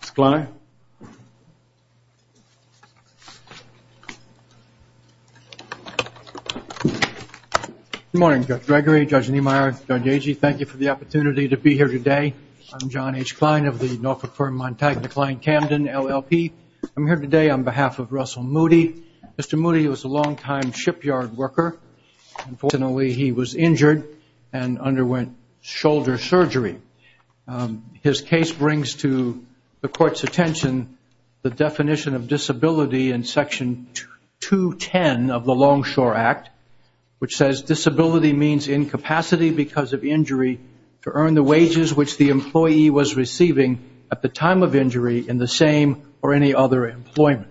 Mr. Kline. Good morning Judge Gregory, Judge Niemeyer, Judge Agee. Thank you for the opportunity to be here today. I'm John H. Kline of the Norfolk firm Montagna-Kline Camden, LLP. I'm here today on behalf of Russell Moody. Mr. Moody was a long-time shipyard worker. Unfortunately, he was injured and underwent shoulder surgery. His case brings to the court's attention the definition of disability in section 210 of the Longshore Act, which says disability means incapacity because of injury to earn the wages which the employee was receiving at the time of injury in the same or any other employment.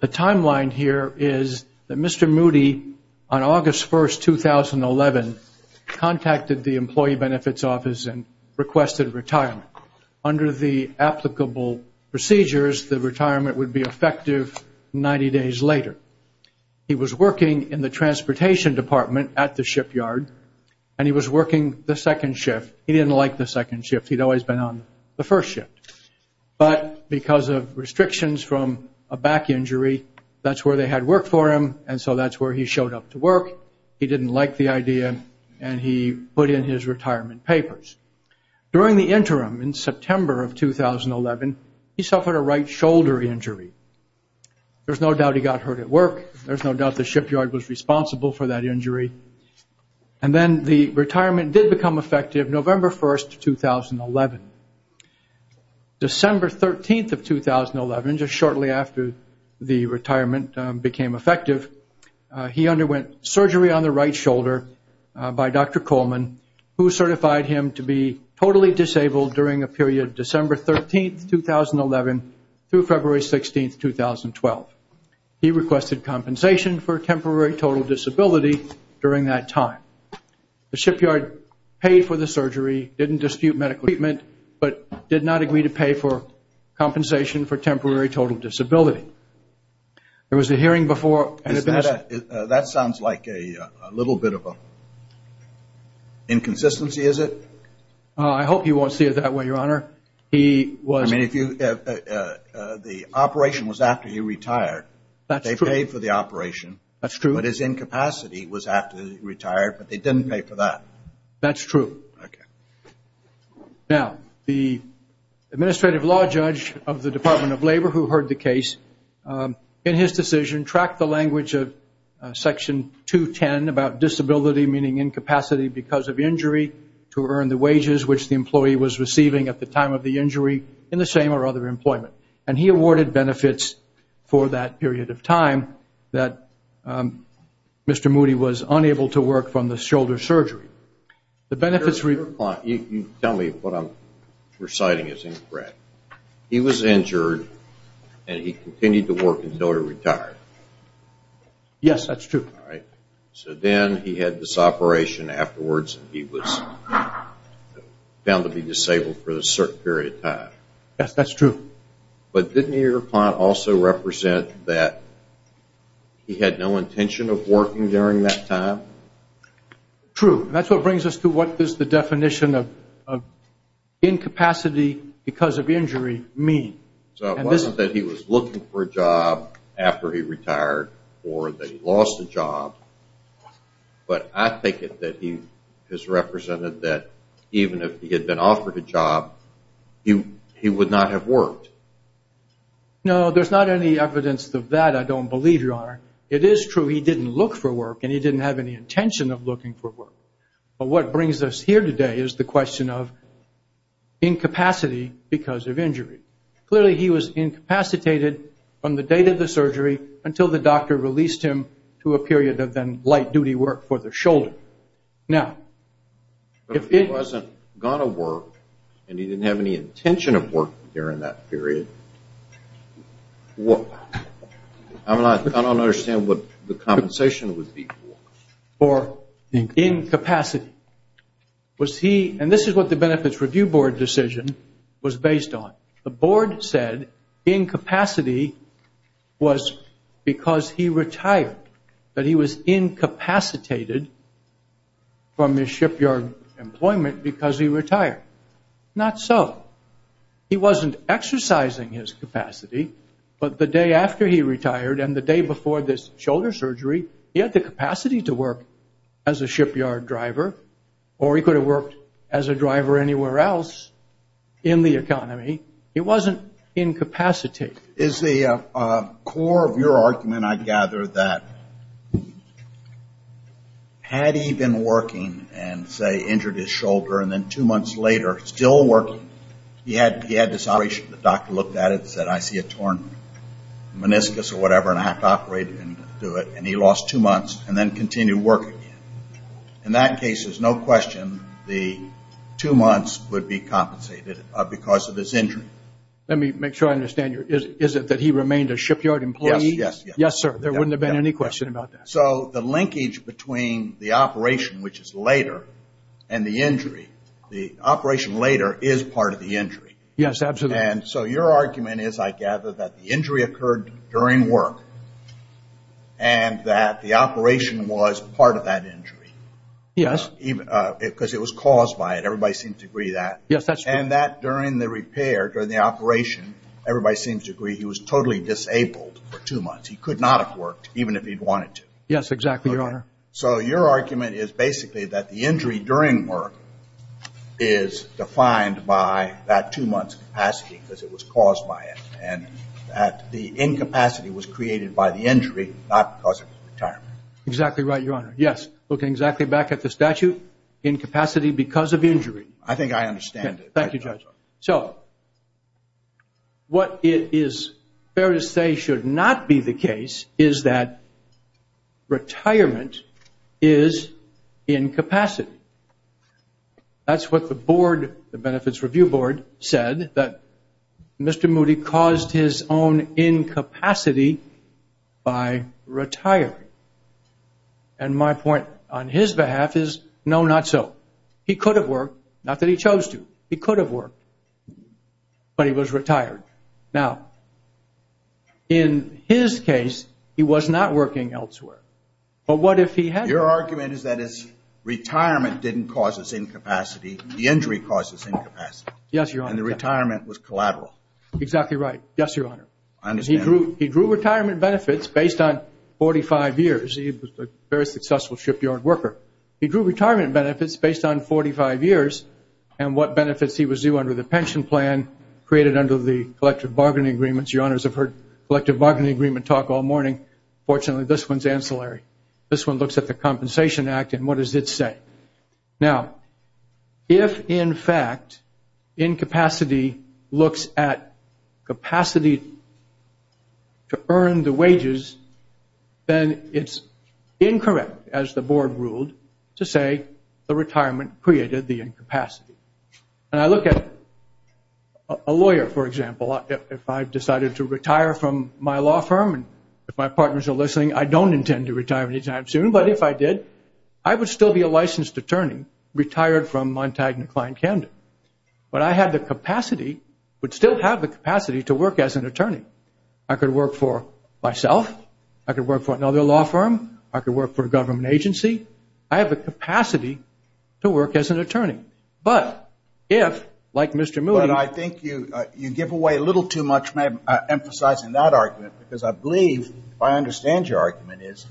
The timeline here is that Mr. Moody, on August 1, 2011, contacted the employee benefits office and requested retirement. Under the applicable procedures, the retirement would be effective 90 days later. He was working in the transportation department at the shipyard and he was working the second shift. He didn't like the second shift. He'd always been on the first shift. But because of restrictions from a back injury, that's where they had work for him and so that's where he showed up to work. He didn't like the idea and he put in his retirement papers. During the interim, in September of 2011, he suffered a right shoulder injury. There's no doubt he got hurt at work. There's no doubt the shipyard was responsible for that injury. And then the retirement did become effective November 1, 2011. December 13, 2011, just shortly after the retirement became effective, he underwent surgery on the right shoulder by Dr. Coleman, who certified him to be totally disabled during a period December 13, 2011 through February 16, 2012. He requested compensation for temporary total disability during that time. The shipyard paid for the surgery, didn't dispute medical treatment, but did not agree to pay for compensation for temporary total disability. There was a hearing before... That sounds like a little bit of an inconsistency, is it? I hope you won't see it that way, Your Honor. I mean, the operation was after he retired. That's true. They paid for the operation. That's true. But his incapacity was after he retired, but they didn't pay for that. That's true. Okay. Now, the administrative law judge of the Department of Labor who heard the case, in his decision, tracked the language of Section 210 about disability, meaning incapacity because of injury, to earn the wages which the employee was receiving at the time of the injury in the same or other employment. And he awarded benefits for that period of time that Mr. Moody was unable to work from the shoulder surgery. The benefits were... Your Honor, you tell me what I'm reciting as incorrect. He was injured and he continued to work until he retired. Yes, that's true. So then he had this operation afterwards and he was found to be disabled for a certain period of time. Yes, that's true. But didn't your client also represent that he had no intention of working during that time? True. That's what brings us to what does the definition of incapacity because of injury mean. So it wasn't that he was looking for a job after he retired or that he lost a job, but I take it that he has represented that even if he had been offered a job, he would not have worked. No, there's not any evidence of that, I don't believe, Your Honor. It is true he didn't look for work and he didn't have any intention of looking for work. But what brings us here today is the question of incapacity because of injury. Clearly he was incapacitated from the date of the surgery until the doctor released him to a period of then light-duty work for the shoulder. Now, if he wasn't going to work and he didn't have any intention of working during that period, I don't understand what the compensation would be for. Incapacity. And this is what the Benefits Review Board decision was based on. The board said incapacity was because he retired, that he was incapacitated from his shipyard employment because he retired. Not so. He wasn't exercising his capacity, but the day after he retired and the day before this shoulder surgery, he had the capacity to work as a shipyard driver or he could have worked as a driver anywhere else in the economy. He wasn't incapacitated. Is the core of your argument, I gather, that had he been working and, say, injured his shoulder, and then two months later still working, he had this operation, the doctor looked at it and said, I see a torn meniscus or whatever, and I have to operate and do it, and he lost two months and then continued working. In that case, there's no question the two months would be compensated because of his injury. Let me make sure I understand. Is it that he remained a shipyard employee? Yes, yes. Yes, sir. There wouldn't have been any question about that. So the linkage between the operation, which is later, and the injury, the operation later is part of the injury. Yes, absolutely. And so your argument is, I gather, that the injury occurred during work and that the operation was part of that injury. Yes. Because it was caused by it. Everybody seems to agree that. Yes, that's true. And that during the repair, during the operation, everybody seems to agree he was totally disabled for two months. He could not have worked even if he'd wanted to. Yes, exactly, Your Honor. So your argument is basically that the injury during work is defined by that two months' capacity because it was caused by it and that the incapacity was created by the injury, not because of his retirement. Exactly right, Your Honor. Yes. Looking exactly back at the statute, incapacity because of injury. I think I understand it. Thank you, Judge. So what it is fair to say should not be the case is that retirement is incapacity. That's what the board, the Benefits Review Board, said, that Mr. Moody caused his own incapacity by retiring. And my point on his behalf is no, not so. He could have worked, not that he chose to. He could have worked, but he was retired. Now, in his case, he was not working elsewhere. But what if he had? Your argument is that his retirement didn't cause his incapacity. The injury caused his incapacity. Yes, Your Honor. And the retirement was collateral. Exactly right. Yes, Your Honor. I understand. He drew retirement benefits based on 45 years. He was a very successful shipyard worker. He drew retirement benefits based on 45 years and what benefits he was due under the pension plan created under the collective bargaining agreements. Your Honors have heard collective bargaining agreement talk all morning. Fortunately, this one's ancillary. This one looks at the Compensation Act and what does it say. Now, if, in fact, incapacity looks at capacity to earn the wages, then it's incorrect, as the Board ruled, to say the retirement created the incapacity. And I look at a lawyer, for example. If I decided to retire from my law firm, and if my partners are listening, I don't intend to retire anytime soon, but if I did, I would still be a licensed attorney retired from Montagna, Kline, Camden. But I had the capacity, would still have the capacity to work as an attorney. I could work for myself. I could work for another law firm. I could work for a government agency. I have the capacity to work as an attorney. But if, like Mr. Moody. But I think you give away a little too much emphasizing that argument because I believe, if I understand your argument, is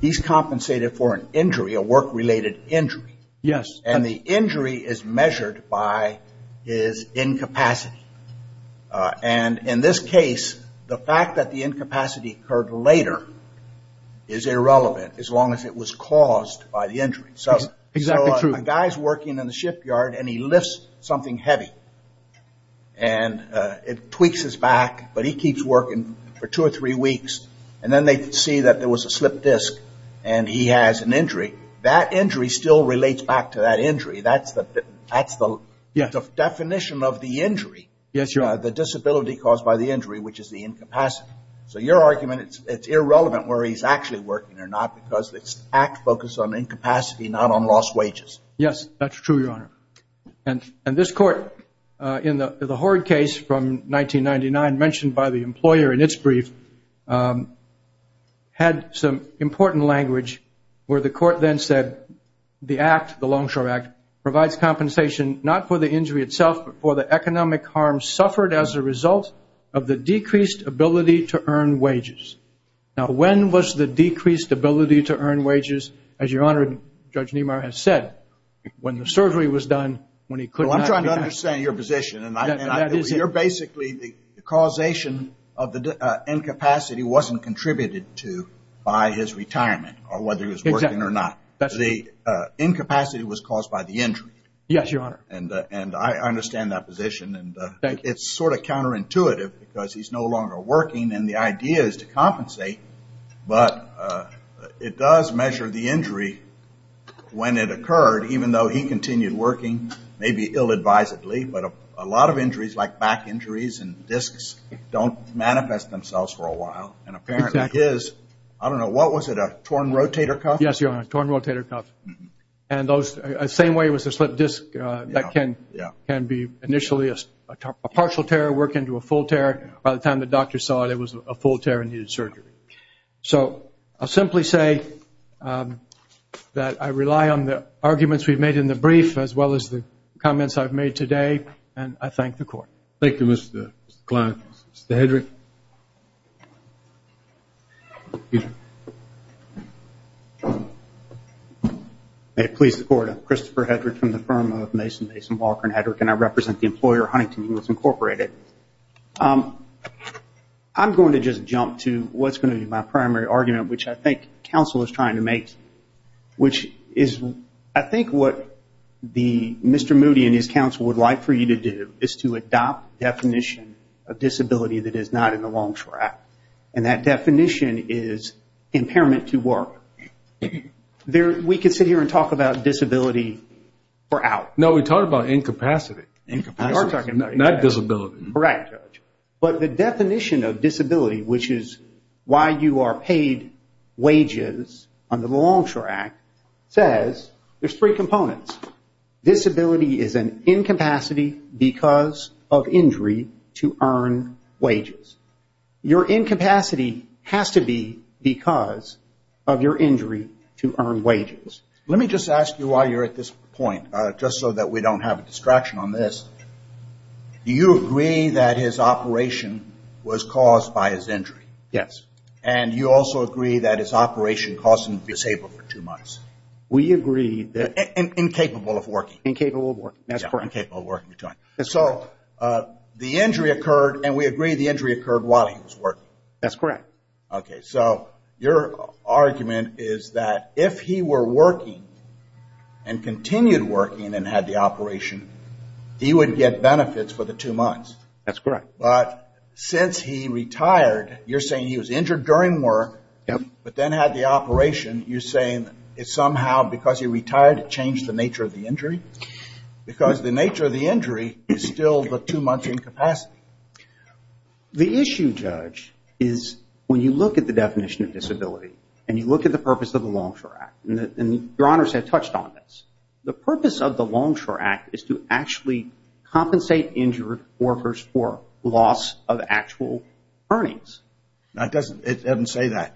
he's compensated for an injury, a work-related injury. Yes. And the injury is measured by his incapacity. And in this case, the fact that the incapacity occurred later is irrelevant, as long as it was caused by the injury. Exactly true. So a guy's working in the shipyard, and he lifts something heavy. And it tweaks his back, but he keeps working for two or three weeks. And then they see that there was a slipped disc, and he has an injury. That injury still relates back to that injury. That's the definition of the injury. Yes, Your Honor. The disability caused by the injury, which is the incapacity. So your argument, it's irrelevant where he's actually working or not because it's act-focused on incapacity, not on lost wages. Yes, that's true, Your Honor. And this court, in the Horde case from 1999, mentioned by the employer in its brief, had some important language where the court then said the act, the Longshore Act, provides compensation not for the injury itself, but for the economic harm suffered as a result of the decreased ability to earn wages. Now, when was the decreased ability to earn wages? As Your Honor, Judge Niemeyer has said, when the surgery was done, when he clipped his back. I'm trying to understand your position. You're basically the causation of the incapacity wasn't contributed to by his retirement, or whether he was working or not. The incapacity was caused by the injury. Yes, Your Honor. And I understand that position, and it's sort of counterintuitive because he's no longer working, and the idea is to compensate, but it does measure the injury when it occurred, even though he continued working, maybe ill-advisedly, but a lot of injuries, like back injuries and discs, don't manifest themselves for a while. And apparently his, I don't know, what was it, a torn rotator cuff? Yes, Your Honor, a torn rotator cuff. And the same way it was a slipped disc that can be initially a partial tear, work into a full tear. By the time the doctor saw it, it was a full tear and needed surgery. So I'll simply say that I rely on the arguments we've made in the brief, as well as the comments I've made today, and I thank the Court. Thank you, Mr. Klein. Mr. Hedrick. Peter. May it please the Court, I'm Christopher Hedrick from the firm of Mason Mason Walker and Hedrick, and I represent the employer, Huntington Hills Incorporated. I'm going to just jump to what's going to be my primary argument, which I think counsel is trying to make, which is I think what Mr. Moody and his counsel would like for you to do is to adopt a definition of disability that is not in the Longshore Act, and that definition is impairment to work. We could sit here and talk about disability for hours. No, we're talking about incapacity. We are talking about incapacity. Not disability. Correct, Judge. But the definition of disability, which is why you are paid wages under the Longshore Act, says there's three components. Disability is an incapacity because of injury to earn wages. Your incapacity has to be because of your injury to earn wages. Let me just ask you while you're at this point, just so that we don't have a distraction on this, do you agree that his operation was caused by his injury? Yes. And you also agree that his operation caused him to be disabled for two months? We agree that. Incapable of working. Incapable of working. That's correct. Incapable of working. So the injury occurred, and we agree the injury occurred while he was working. That's correct. Okay. So your argument is that if he were working and continued working and had the operation, he would get benefits for the two months. That's correct. But since he retired, you're saying he was injured during work but then had the injury somehow because he retired it changed the nature of the injury? Because the nature of the injury is still the two-month incapacity. The issue, Judge, is when you look at the definition of disability and you look at the purpose of the Longshore Act, and Your Honors have touched on this, the purpose of the Longshore Act is to actually compensate injured workers for loss of actual earnings. It doesn't say that.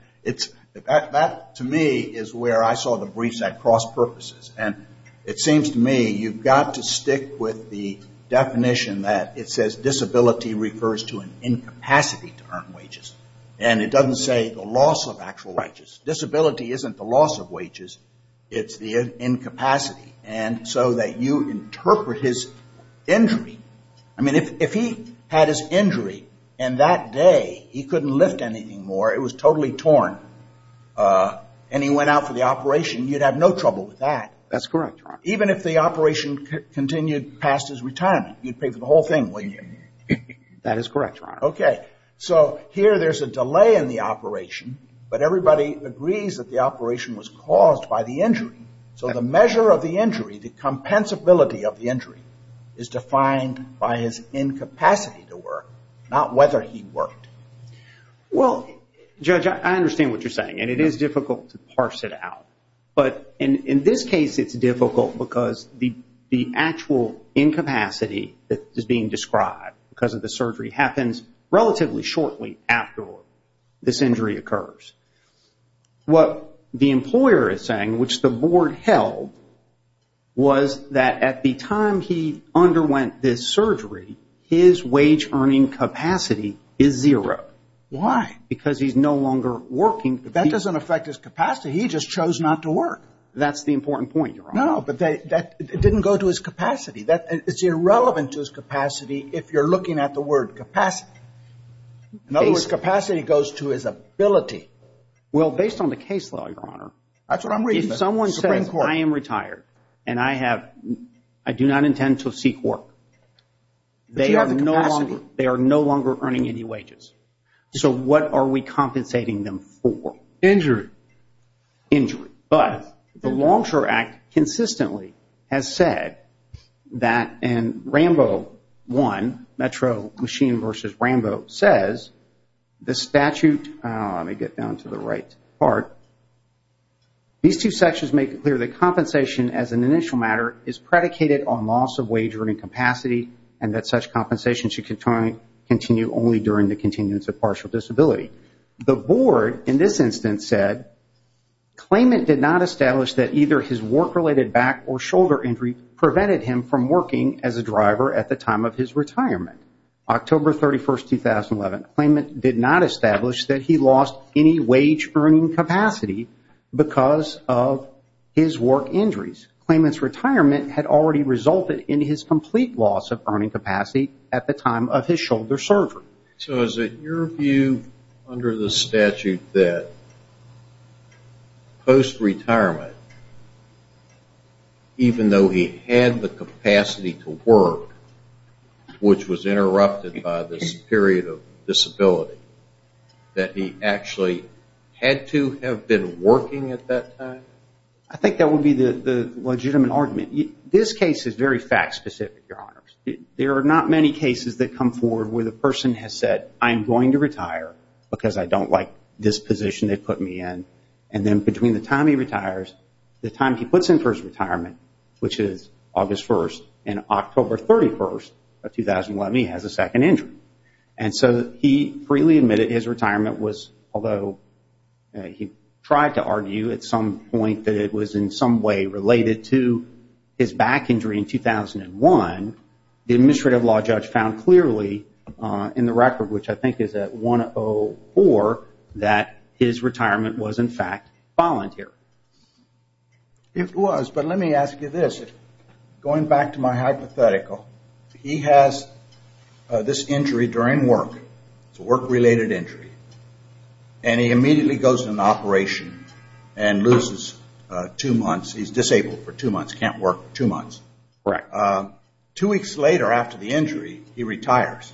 That, to me, is where I saw the briefs at cross purposes. And it seems to me you've got to stick with the definition that it says disability refers to an incapacity to earn wages. And it doesn't say the loss of actual wages. Disability isn't the loss of wages. It's the incapacity. And so that you interpret his injury. I mean, if he had his injury and that day he couldn't lift anything more, it was totally torn, and he went out for the operation, you'd have no trouble with that. That's correct, Your Honor. Even if the operation continued past his retirement, you'd pay for the whole thing, wouldn't you? That is correct, Your Honor. Okay. So here there's a delay in the operation, but everybody agrees that the operation was caused by the injury. So the measure of the injury, the compensability of the injury, is defined by his incapacity to work, not whether he worked. Well, Judge, I understand what you're saying, and it is difficult to parse it out. But in this case it's difficult because the actual incapacity that is being described because of the surgery happens relatively shortly after this injury occurs. What the employer is saying, which the board held, was that at the time he underwent this surgery, his wage earning capacity is zero. Why? Because he's no longer working. But that doesn't affect his capacity. He just chose not to work. That's the important point, Your Honor. No, but that didn't go to his capacity. It's irrelevant to his capacity if you're looking at the word capacity. In other words, capacity goes to his ability. Well, based on the case law, Your Honor, if someone says I am retired and I do not intend to seek work, they are no longer earning any wages. So what are we compensating them for? Injury. Injury. But the Longshore Act consistently has said that in Rambo I, Metro Machine v. Rambo, says the statute, let me get down to the right part, these two sections make it clear that compensation as an initial matter is predicated on loss of wage earning capacity and that such compensation should continue only during the continuance of partial disability. The board, in this instance, said claimant did not establish that either his work-related back or shoulder injury prevented him from working as a driver at the time of his retirement. October 31, 2011, claimant did not establish that he lost any wage earning capacity because of his work injuries. In fact, claimant's retirement had already resulted in his complete loss of earning capacity at the time of his shoulder surgery. So is it your view under the statute that post-retirement, even though he had the capacity to work, which was interrupted by this period of disability, that he actually had to have been working at that time? I think that would be the legitimate argument. This case is very fact-specific, Your Honors. There are not many cases that come forward where the person has said, I'm going to retire because I don't like this position they put me in, and then between the time he retires, the time he puts in for his retirement, which is August 1, and October 31, 2011, he has a second injury. And so he freely admitted his retirement was, although he tried to argue at some point that it was in some way related to his back injury in 2001, the administrative law judge found clearly in the record, which I think is at 104, that his retirement was, in fact, voluntary. It was, but let me ask you this. Going back to my hypothetical, he has this injury during work. It's a work-related injury. And he immediately goes into operation and loses two months. He's disabled for two months, can't work for two months. Correct. Two weeks later after the injury, he retires.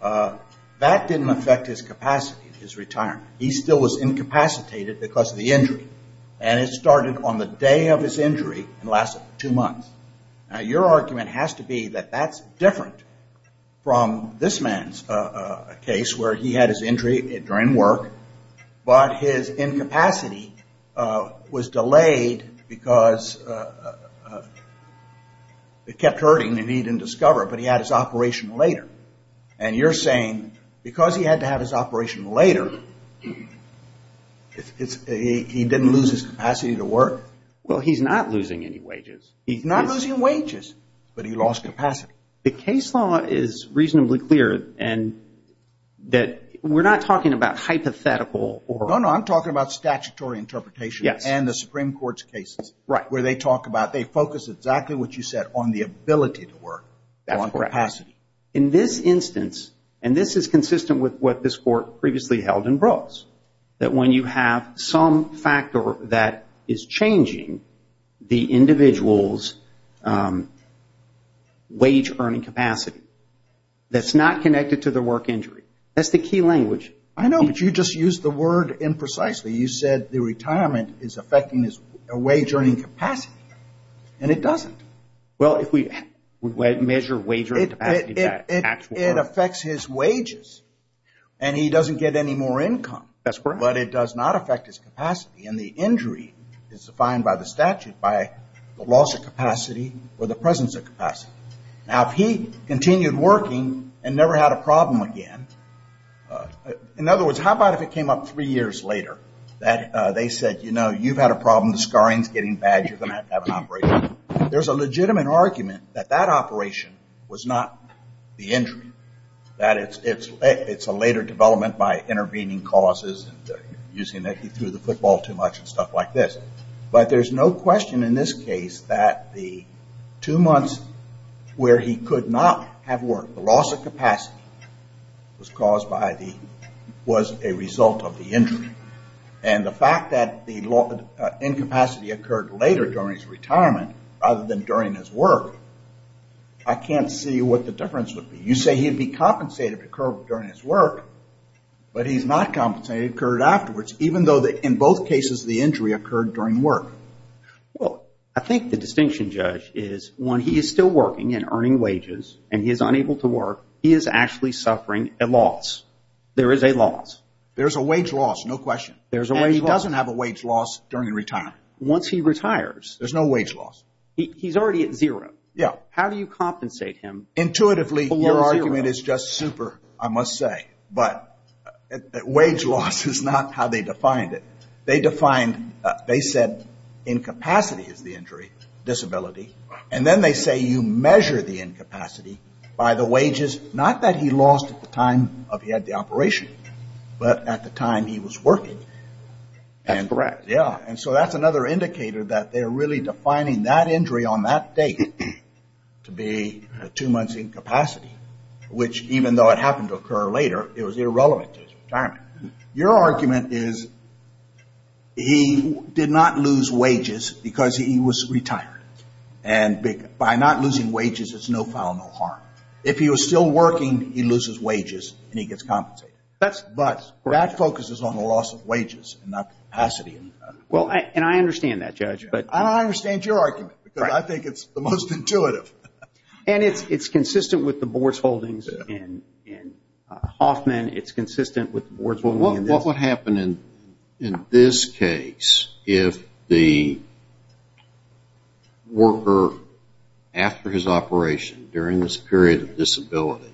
That didn't affect his capacity, his retirement. He still was incapacitated because of the injury. And it started on the day of his injury and lasted two months. Now, your argument has to be that that's different from this man's case, where he had his injury during work, but his incapacity was delayed because it kept hurting and he didn't discover it, but he had his operation later. And you're saying because he had to have his operation later, he didn't lose his capacity to work? Well, he's not losing any wages. He's not losing wages, but he lost capacity. The case law is reasonably clear in that we're not talking about hypothetical. No, no. I'm talking about statutory interpretation and the Supreme Court's cases. Right. Where they talk about they focus exactly what you said on the ability to work. That's correct. On capacity. In this instance, and this is consistent with what this Court previously held in Brooks, that when you have some factor that is changing the individual's wage earning capacity, that's not connected to the work injury. That's the key language. I know, but you just used the word imprecisely. You said the retirement is affecting his wage earning capacity, and it doesn't. Well, if we measure wage earning capacity. It affects his wages, and he doesn't get any more income. That's correct. But it does not affect his capacity, and the injury is defined by the statute, by the loss of capacity or the presence of capacity. Now, if he continued working and never had a problem again, in other words, how about if it came up three years later that they said, you know, you've had a problem. The scarring is getting bad. You're going to have to have an operation. There's a legitimate argument that that operation was not the injury, that it's a later development by intervening causes and using it. He threw the football too much and stuff like this. But there's no question in this case that the two months where he could not have worked, the loss of capacity was caused by the, was a result of the injury. And the fact that the incapacity occurred later during his retirement rather than during his work, I can't see what the difference would be. You say he'd be compensated to occur during his work, but he's not compensated to occur afterwards, even though in both cases the injury occurred during work. Well, I think the distinction, Judge, is when he is still working and earning wages and he is unable to work, he is actually suffering a loss. There is a loss. There is a wage loss, no question. And he doesn't have a wage loss during retirement. Once he retires? There's no wage loss. He's already at zero. Yeah. How do you compensate him? Intuitively, your argument is just super, I must say. But wage loss is not how they defined it. They defined, they said incapacity is the injury, disability. And then they say you measure the incapacity by the wages, which is not that he lost at the time he had the operation, but at the time he was working. That's correct. Yeah. And so that's another indicator that they're really defining that injury on that date to be two months incapacity, which even though it happened to occur later, it was irrelevant to his retirement. Your argument is he did not lose wages because he was retired. And by not losing wages, it's no foul, no harm. If he was still working, he loses wages and he gets compensated. But that focuses on the loss of wages and not capacity. Well, and I understand that, Judge. I don't understand your argument because I think it's the most intuitive. And it's consistent with the board's holdings in Hoffman. What would happen in this case if the worker, after his operation during this period of disability,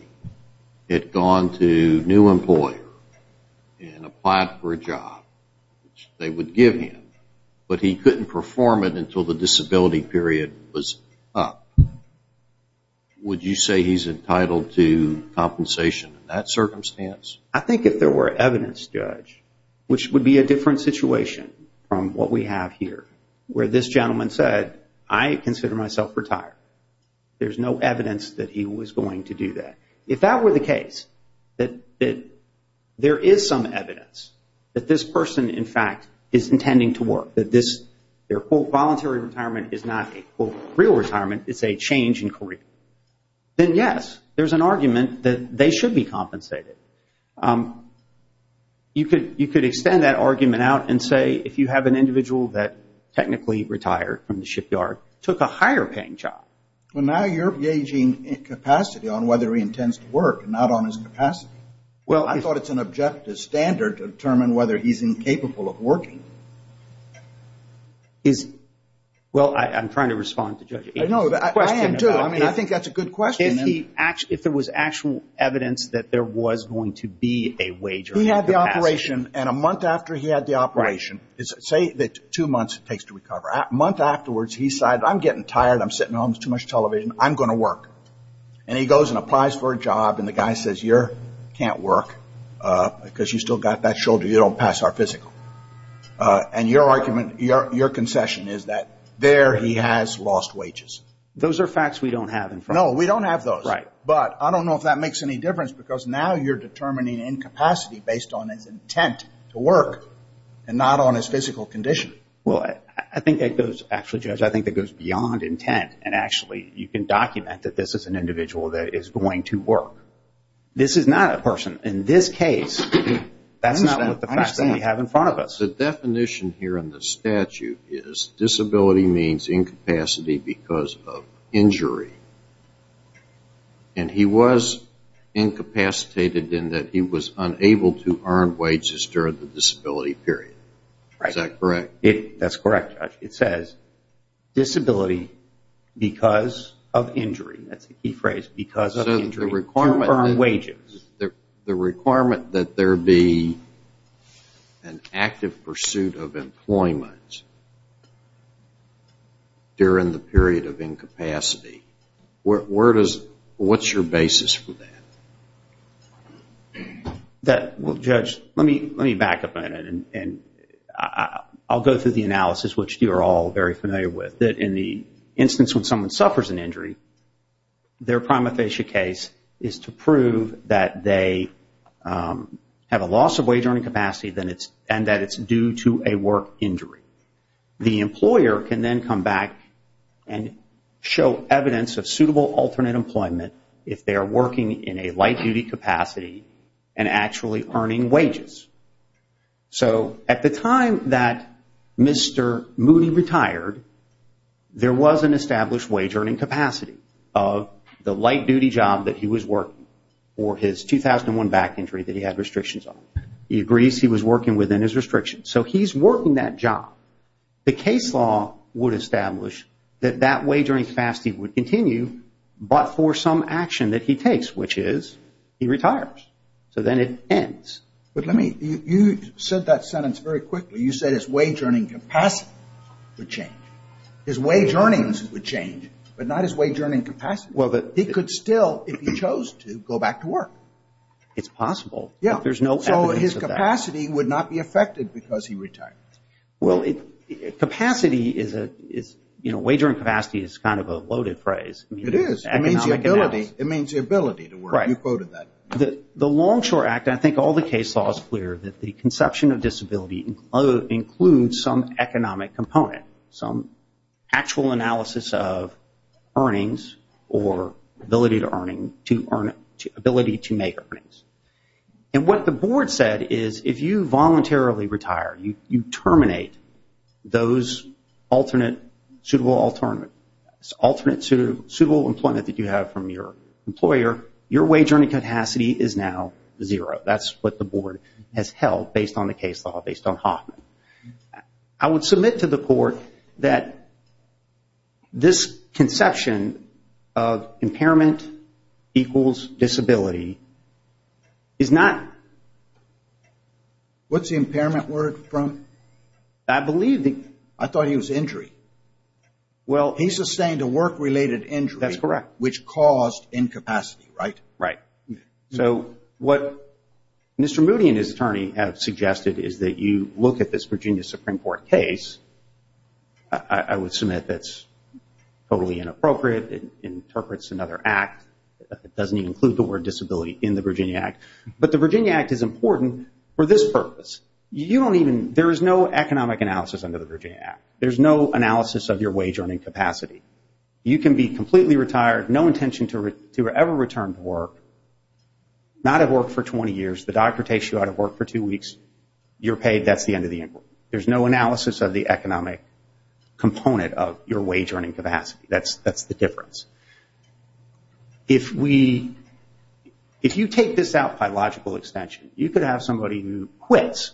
had gone to a new employer and applied for a job, which they would give him, but he couldn't perform it until the disability period was up? Would you say he's entitled to compensation in that circumstance? I think if there were evidence, Judge, which would be a different situation from what we have here, where this gentleman said, I consider myself retired. There's no evidence that he was going to do that. If that were the case, that there is some evidence that this person, in fact, is intending to work, that their, quote, voluntary retirement is not a, quote, real retirement. It's a change in career. Then, yes, there's an argument that they should be compensated. You could extend that argument out and say if you have an individual that technically retired from the shipyard, took a higher paying job. Well, now you're gauging capacity on whether he intends to work, not on his capacity. Well, I thought it's an objective standard to determine whether he's Well, I'm trying to respond to Judge Aitken's question. No, I am too. I mean, I think that's a good question. If there was actual evidence that there was going to be a wager. He had the operation, and a month after he had the operation, say that two months it takes to recover. A month afterwards, he said, I'm getting tired. I'm sitting at home. There's too much television. I'm going to work. And he goes and applies for a job, and the guy says, you can't work because you've still got that shoulder. You don't pass our physical. And your argument, your concession is that there he has lost wages. Those are facts we don't have in front of us. No, we don't have those. Right. But I don't know if that makes any difference, because now you're determining incapacity based on his intent to work, and not on his physical condition. Well, I think that goes, actually, Judge, I think that goes beyond intent, and actually you can document that this is an individual that is going to work. This is not a person. In this case, that's not the facts that we have in front of us. The definition here in the statute is disability means incapacity because of injury. And he was incapacitated in that he was unable to earn wages during the disability period. Is that correct? That's correct, Judge. It says disability because of injury. That's the key phrase, because of injury. The requirement that there be an active pursuit of employment during the period of incapacity. What's your basis for that? Well, Judge, let me back up a minute, and I'll go through the analysis, which you're all very familiar with, that in the instance when someone is to prove that they have a loss of wage earning capacity and that it's due to a work injury, the employer can then come back and show evidence of suitable alternate employment if they are working in a light duty capacity and actually earning wages. So at the time that Mr. Moody retired, there was an established wage earning capacity of the light duty job that he was working for his 2001 back injury that he had restrictions on. He agrees he was working within his restrictions. So he's working that job. The case law would establish that that wage earning capacity would continue, but for some action that he takes, which is he retires. So then it ends. You said that sentence very quickly. You said his wage earning capacity would change. His wage earnings would change, but not his wage earning capacity. He could still, if he chose to, go back to work. It's possible, but there's no evidence of that. Yeah, so his capacity would not be affected because he retired. Well, capacity is, you know, wage earning capacity is kind of a loaded phrase. It is. It means the ability. It means the ability to work. You quoted that. The Longshore Act, and I think all the case law is clear, that the conception of disability includes some economic component, some actual analysis of earnings or ability to make earnings. And what the board said is if you voluntarily retire, you terminate those alternate suitable employment that you have from your employer, your wage earning capacity is now zero. That's what the board has held based on the case law, based on Hoffman. I would submit to the court that this conception of impairment equals disability is not. What's the impairment word from? I believe the. I thought he was injury. Well. He sustained a work-related injury. That's correct. Which caused incapacity, right? Right. So what Mr. Moody and his attorney have suggested is that you look at this Virginia Supreme Court case. I would submit that's totally inappropriate. It interprets another act. It doesn't even include the word disability in the Virginia Act. But the Virginia Act is important for this purpose. You don't even. There is no economic analysis under the Virginia Act. There's no analysis of your wage earning capacity. You can be completely retired, no intention to ever return to work, not have worked for 20 years. The doctor takes you out of work for two weeks. You're paid. That's the end of the inquiry. There's no analysis of the economic component of your wage earning capacity. That's the difference. If you take this out by logical extension, you could have somebody who quits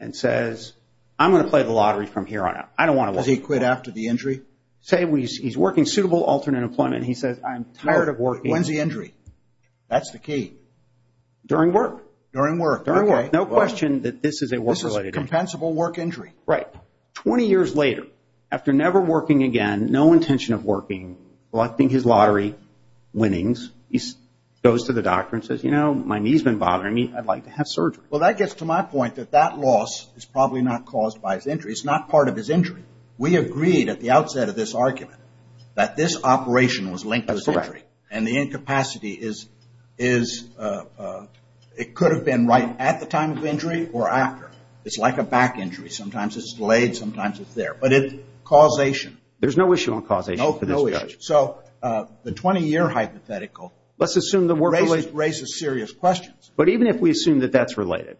and says, I'm going to play the lottery from here on out. I don't want to work. Does he quit after the injury? Say he's working suitable alternate employment. He says, I'm tired of working. When's the injury? That's the key. During work. During work. During work. No question that this is a work-related injury. This is a compensable work injury. Right. 20 years later, after never working again, no intention of working, collecting his lottery winnings, he goes to the doctor and says, you know, my knee's been bothering me. I'd like to have surgery. Well, that gets to my point that that loss is probably not caused by his injury. It's not part of his injury. We agreed at the outset of this argument that this operation was linked to his injury. That's correct. And the incapacity is it could have been right at the time of injury or after. It's like a back injury. Sometimes it's delayed. Sometimes it's there. But it's causation. There's no issue on causation for this judge. No issue. So the 20-year hypothetical raises serious questions. But even if we assume that that's related,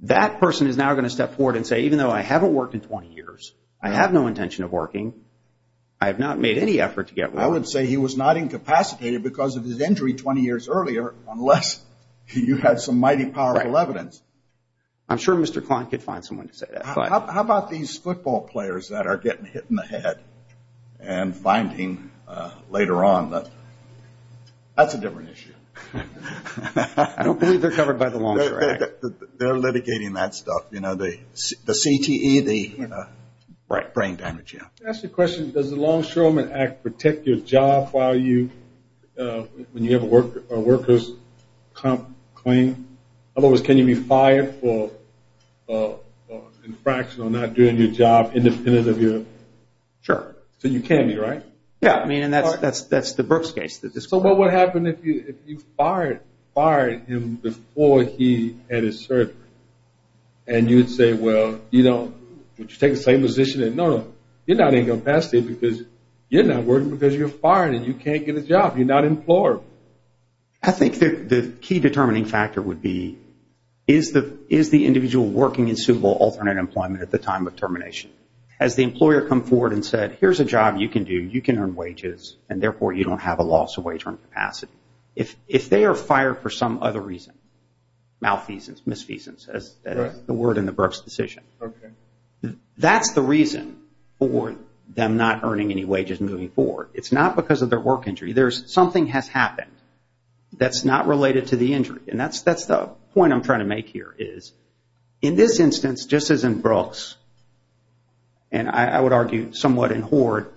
that person is now going to step forward and say, even though I haven't worked in 20 years, I have no intention of working, I have not made any effort to get well. I would say he was not incapacitated because of his injury 20 years earlier unless you had some mighty powerful evidence. I'm sure Mr. Kline could find someone to say that. How about these football players that are getting hit in the head and finding later on that that's a different issue? I don't believe they're covered by the Longshore Act. They're litigating that stuff, you know, the CTE, the brain damage, yeah. Can I ask you a question? Does the Longshoreman Act protect your job when you have a workers' comp claim? In other words, can you be fired for infraction on not doing your job independent of your? Sure. So you can be, right? Yeah, I mean, and that's the Brooks case. So what would happen if you fired him before he had his surgery? And you would say, well, you know, would you take the same position? No, no, you're not incapacitated because you're not working because you're fired and you can't get a job, you're not employed. I think the key determining factor would be, is the individual working in suitable alternate employment at the time of termination? Has the employer come forward and said, here's a job you can do, you can earn wages, and therefore you don't have a loss of wage earning capacity? If they are fired for some other reason, malfeasance, misfeasance, as the word in the Brooks decision, that's the reason for them not earning any wages moving forward. It's not because of their work injury. There's something has happened that's not related to the injury. And that's the point I'm trying to make here is, in this instance, just as in Brooks, and I would argue somewhat in Hoard,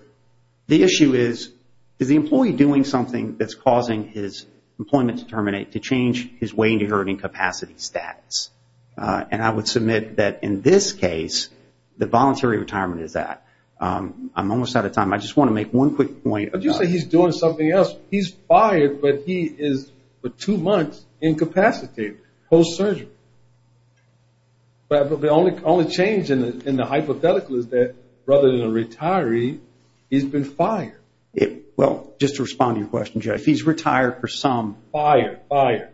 the issue is, is the employee doing something that's causing his employment to terminate, to change his wage earning capacity status? And I would submit that in this case, the voluntary retirement is that. I'm almost out of time. I just want to make one quick point. But you say he's doing something else. He's fired, but he is for two months incapacitated, post-surgery. But the only change in the hypothetical is that rather than a retiree, he's been fired. Well, just to respond to your question, Jeff, he's retired for some. Fired, fired.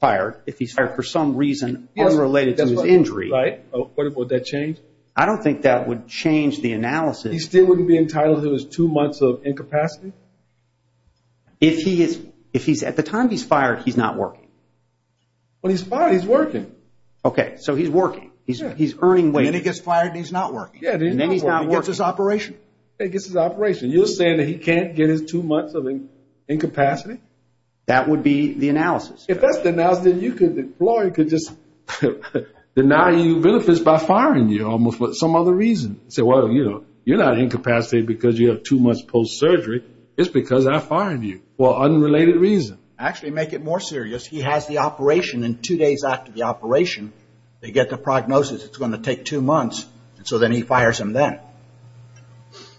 Fired. If he's fired for some reason unrelated to his injury. Right. Would that change? I don't think that would change the analysis. He still wouldn't be entitled to his two months of incapacity? If he's at the time he's fired, he's not working. Well, he's fired. He's working. Okay. So he's working. He's earning wages. And then he gets fired and he's not working. And then he's not working. He gets his operation. He gets his operation. You're saying that he can't get his two months of incapacity? That would be the analysis. If that's the analysis, then you could just deny you benefits by firing you almost for some other reason. Say, well, you know, you're not incapacitated because you have two months post-surgery. It's because I fired you for unrelated reason. Actually, make it more serious. He has the operation. And two days after the operation, they get the prognosis it's going to take two months. So then he fires him then.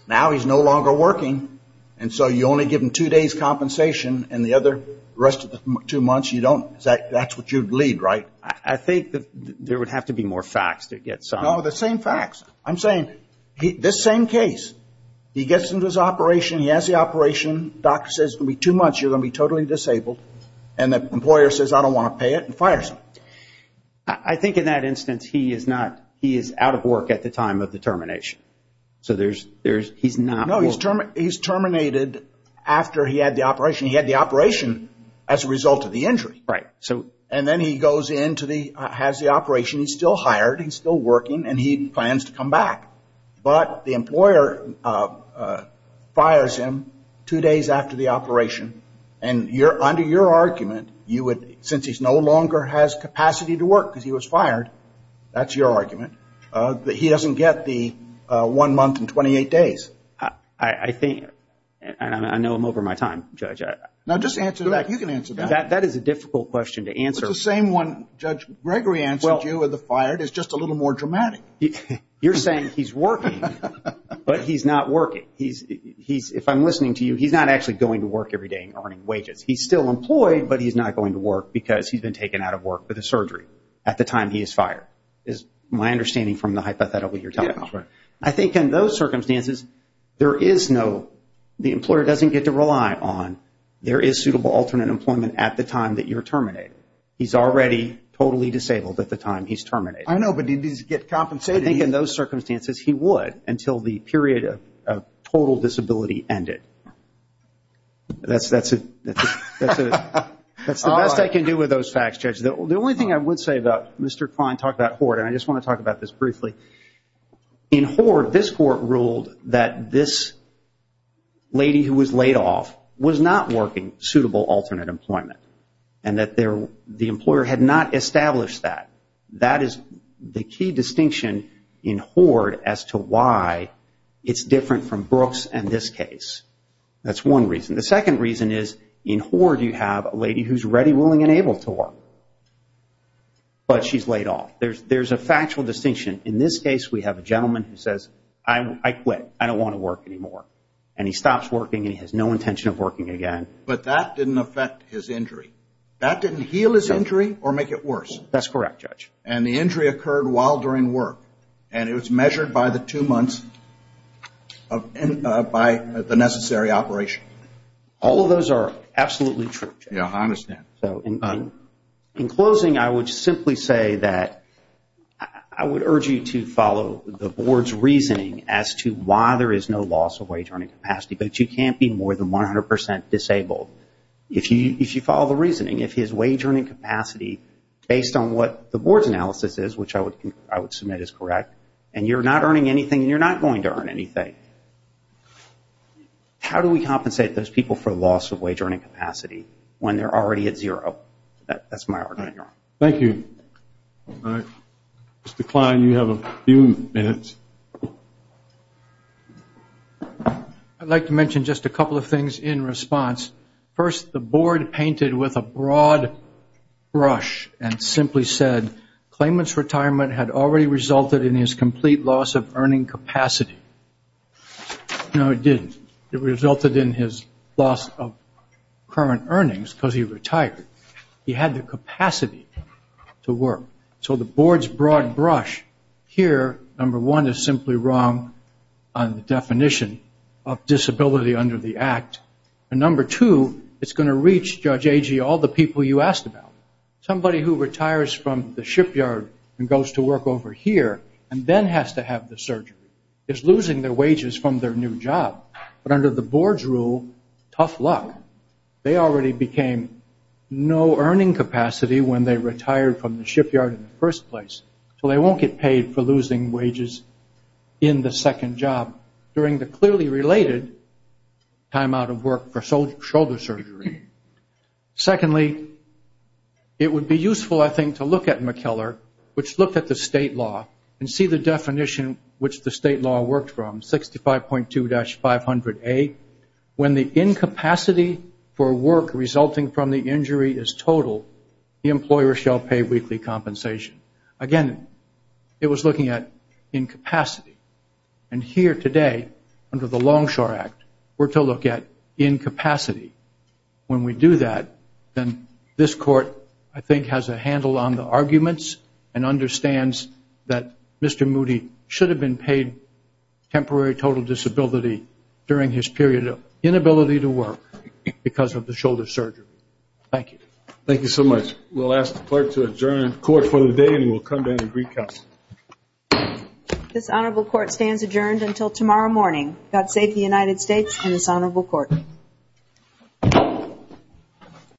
Now he's no longer working. And so you only give him two days' compensation and the other rest of the two months you don't. That's what you'd lead, right? I think there would have to be more facts to get some. No, the same facts. I'm saying this same case. He gets into his operation. He has the operation. Doctor says it's going to be two months. You're going to be totally disabled. And the employer says, I don't want to pay it, and fires him. I think in that instance, he is out of work at the time of the termination. So he's not working. No, he's terminated after he had the operation. He had the operation as a result of the injury. Right. And then he goes in, has the operation. He's still hired. He's still working. And he plans to come back. But the employer fires him two days after the operation. And under your argument, since he no longer has capacity to work because he was fired, that's your argument, that he doesn't get the one month and 28 days. I know I'm over my time, Judge. No, just answer that. You can answer that. That is a difficult question to answer. It's the same one Judge Gregory answered you with the fired. It's just a little more dramatic. You're saying he's working, but he's not working. If I'm listening to you, he's not actually going to work every day and earning wages. He's still employed, but he's not going to work because he's been taken out of work for the surgery at the time he is fired, is my understanding from the hypothetical you're talking about. Yeah, that's right. I think in those circumstances, the employer doesn't get to rely on, there is suitable alternate employment at the time that you're terminated. He's already totally disabled at the time he's terminated. I know, but he needs to get compensated. I think in those circumstances, he would until the period of total disability ended. That's the best I can do with those facts, Judge. The only thing I would say about Mr. Klein talked about Hort, and I just want to talk about this briefly. In Hort, this court ruled that this lady who was laid off was not working suitable alternate employment and that the employer had not established that. That is the key distinction in Hort as to why it's different from Brooks and this case. That's one reason. The second reason is in Hort, you have a lady who's ready, willing, and able to work, but she's laid off. There's a factual distinction. In this case, we have a gentleman who says, I quit. I don't want to work anymore, and he stops working, and he has no intention of working again. But that didn't affect his injury. That didn't heal his injury or make it worse? That's correct, Judge. And the injury occurred while during work, and it was measured by the two months by the necessary operation? All of those are absolutely true, Judge. I understand. In closing, I would simply say that I would urge you to follow the Board's reasoning as to why there is no loss of wage earning capacity, but you can't be more than 100% disabled. If you follow the reasoning, if his wage earning capacity, based on what the Board's analysis is, which I would submit is correct, and you're not earning anything and you're not going to earn anything, how do we compensate those people for loss of wage earning capacity when they're already at zero? That's my argument. Thank you. Mr. Kline, you have a few minutes. I'd like to mention just a couple of things in response. First, the Board painted with a broad brush and simply said, claimant's retirement had already resulted in his complete loss of earning capacity. No, it didn't. It resulted in his loss of current earnings because he retired. He had the capacity to work. So the Board's broad brush here, number one, is simply wrong on the definition of disability under the Act. And number two, it's going to reach, Judge Agee, all the people you asked about. Somebody who retires from the shipyard and goes to work over here and then has to have the surgery is losing their wages from their new job. But under the Board's rule, tough luck. They already became no earning capacity when they retired from the shipyard in the first place, so they won't get paid for losing wages in the second job during the clearly related time out of work for shoulder surgery. Secondly, it would be useful, I think, to look at McKellar, which looked at the state law, and see the definition which the state law worked from, 65.2-500A. When the incapacity for work resulting from the injury is total, the employer shall pay weekly compensation. Again, it was looking at incapacity. And here today, under the Longshore Act, we're to look at incapacity. When we do that, then this Court, I think, has a handle on the arguments and understands that Mr. Moody should have been paid temporary total disability during his period of inability to work because of the shoulder surgery. Thank you. Thank you so much. We'll ask the Clerk to adjourn the Court for the day, and we'll come to an agreed counsel. This Honorable Court stands adjourned until tomorrow morning. God save the United States and this Honorable Court.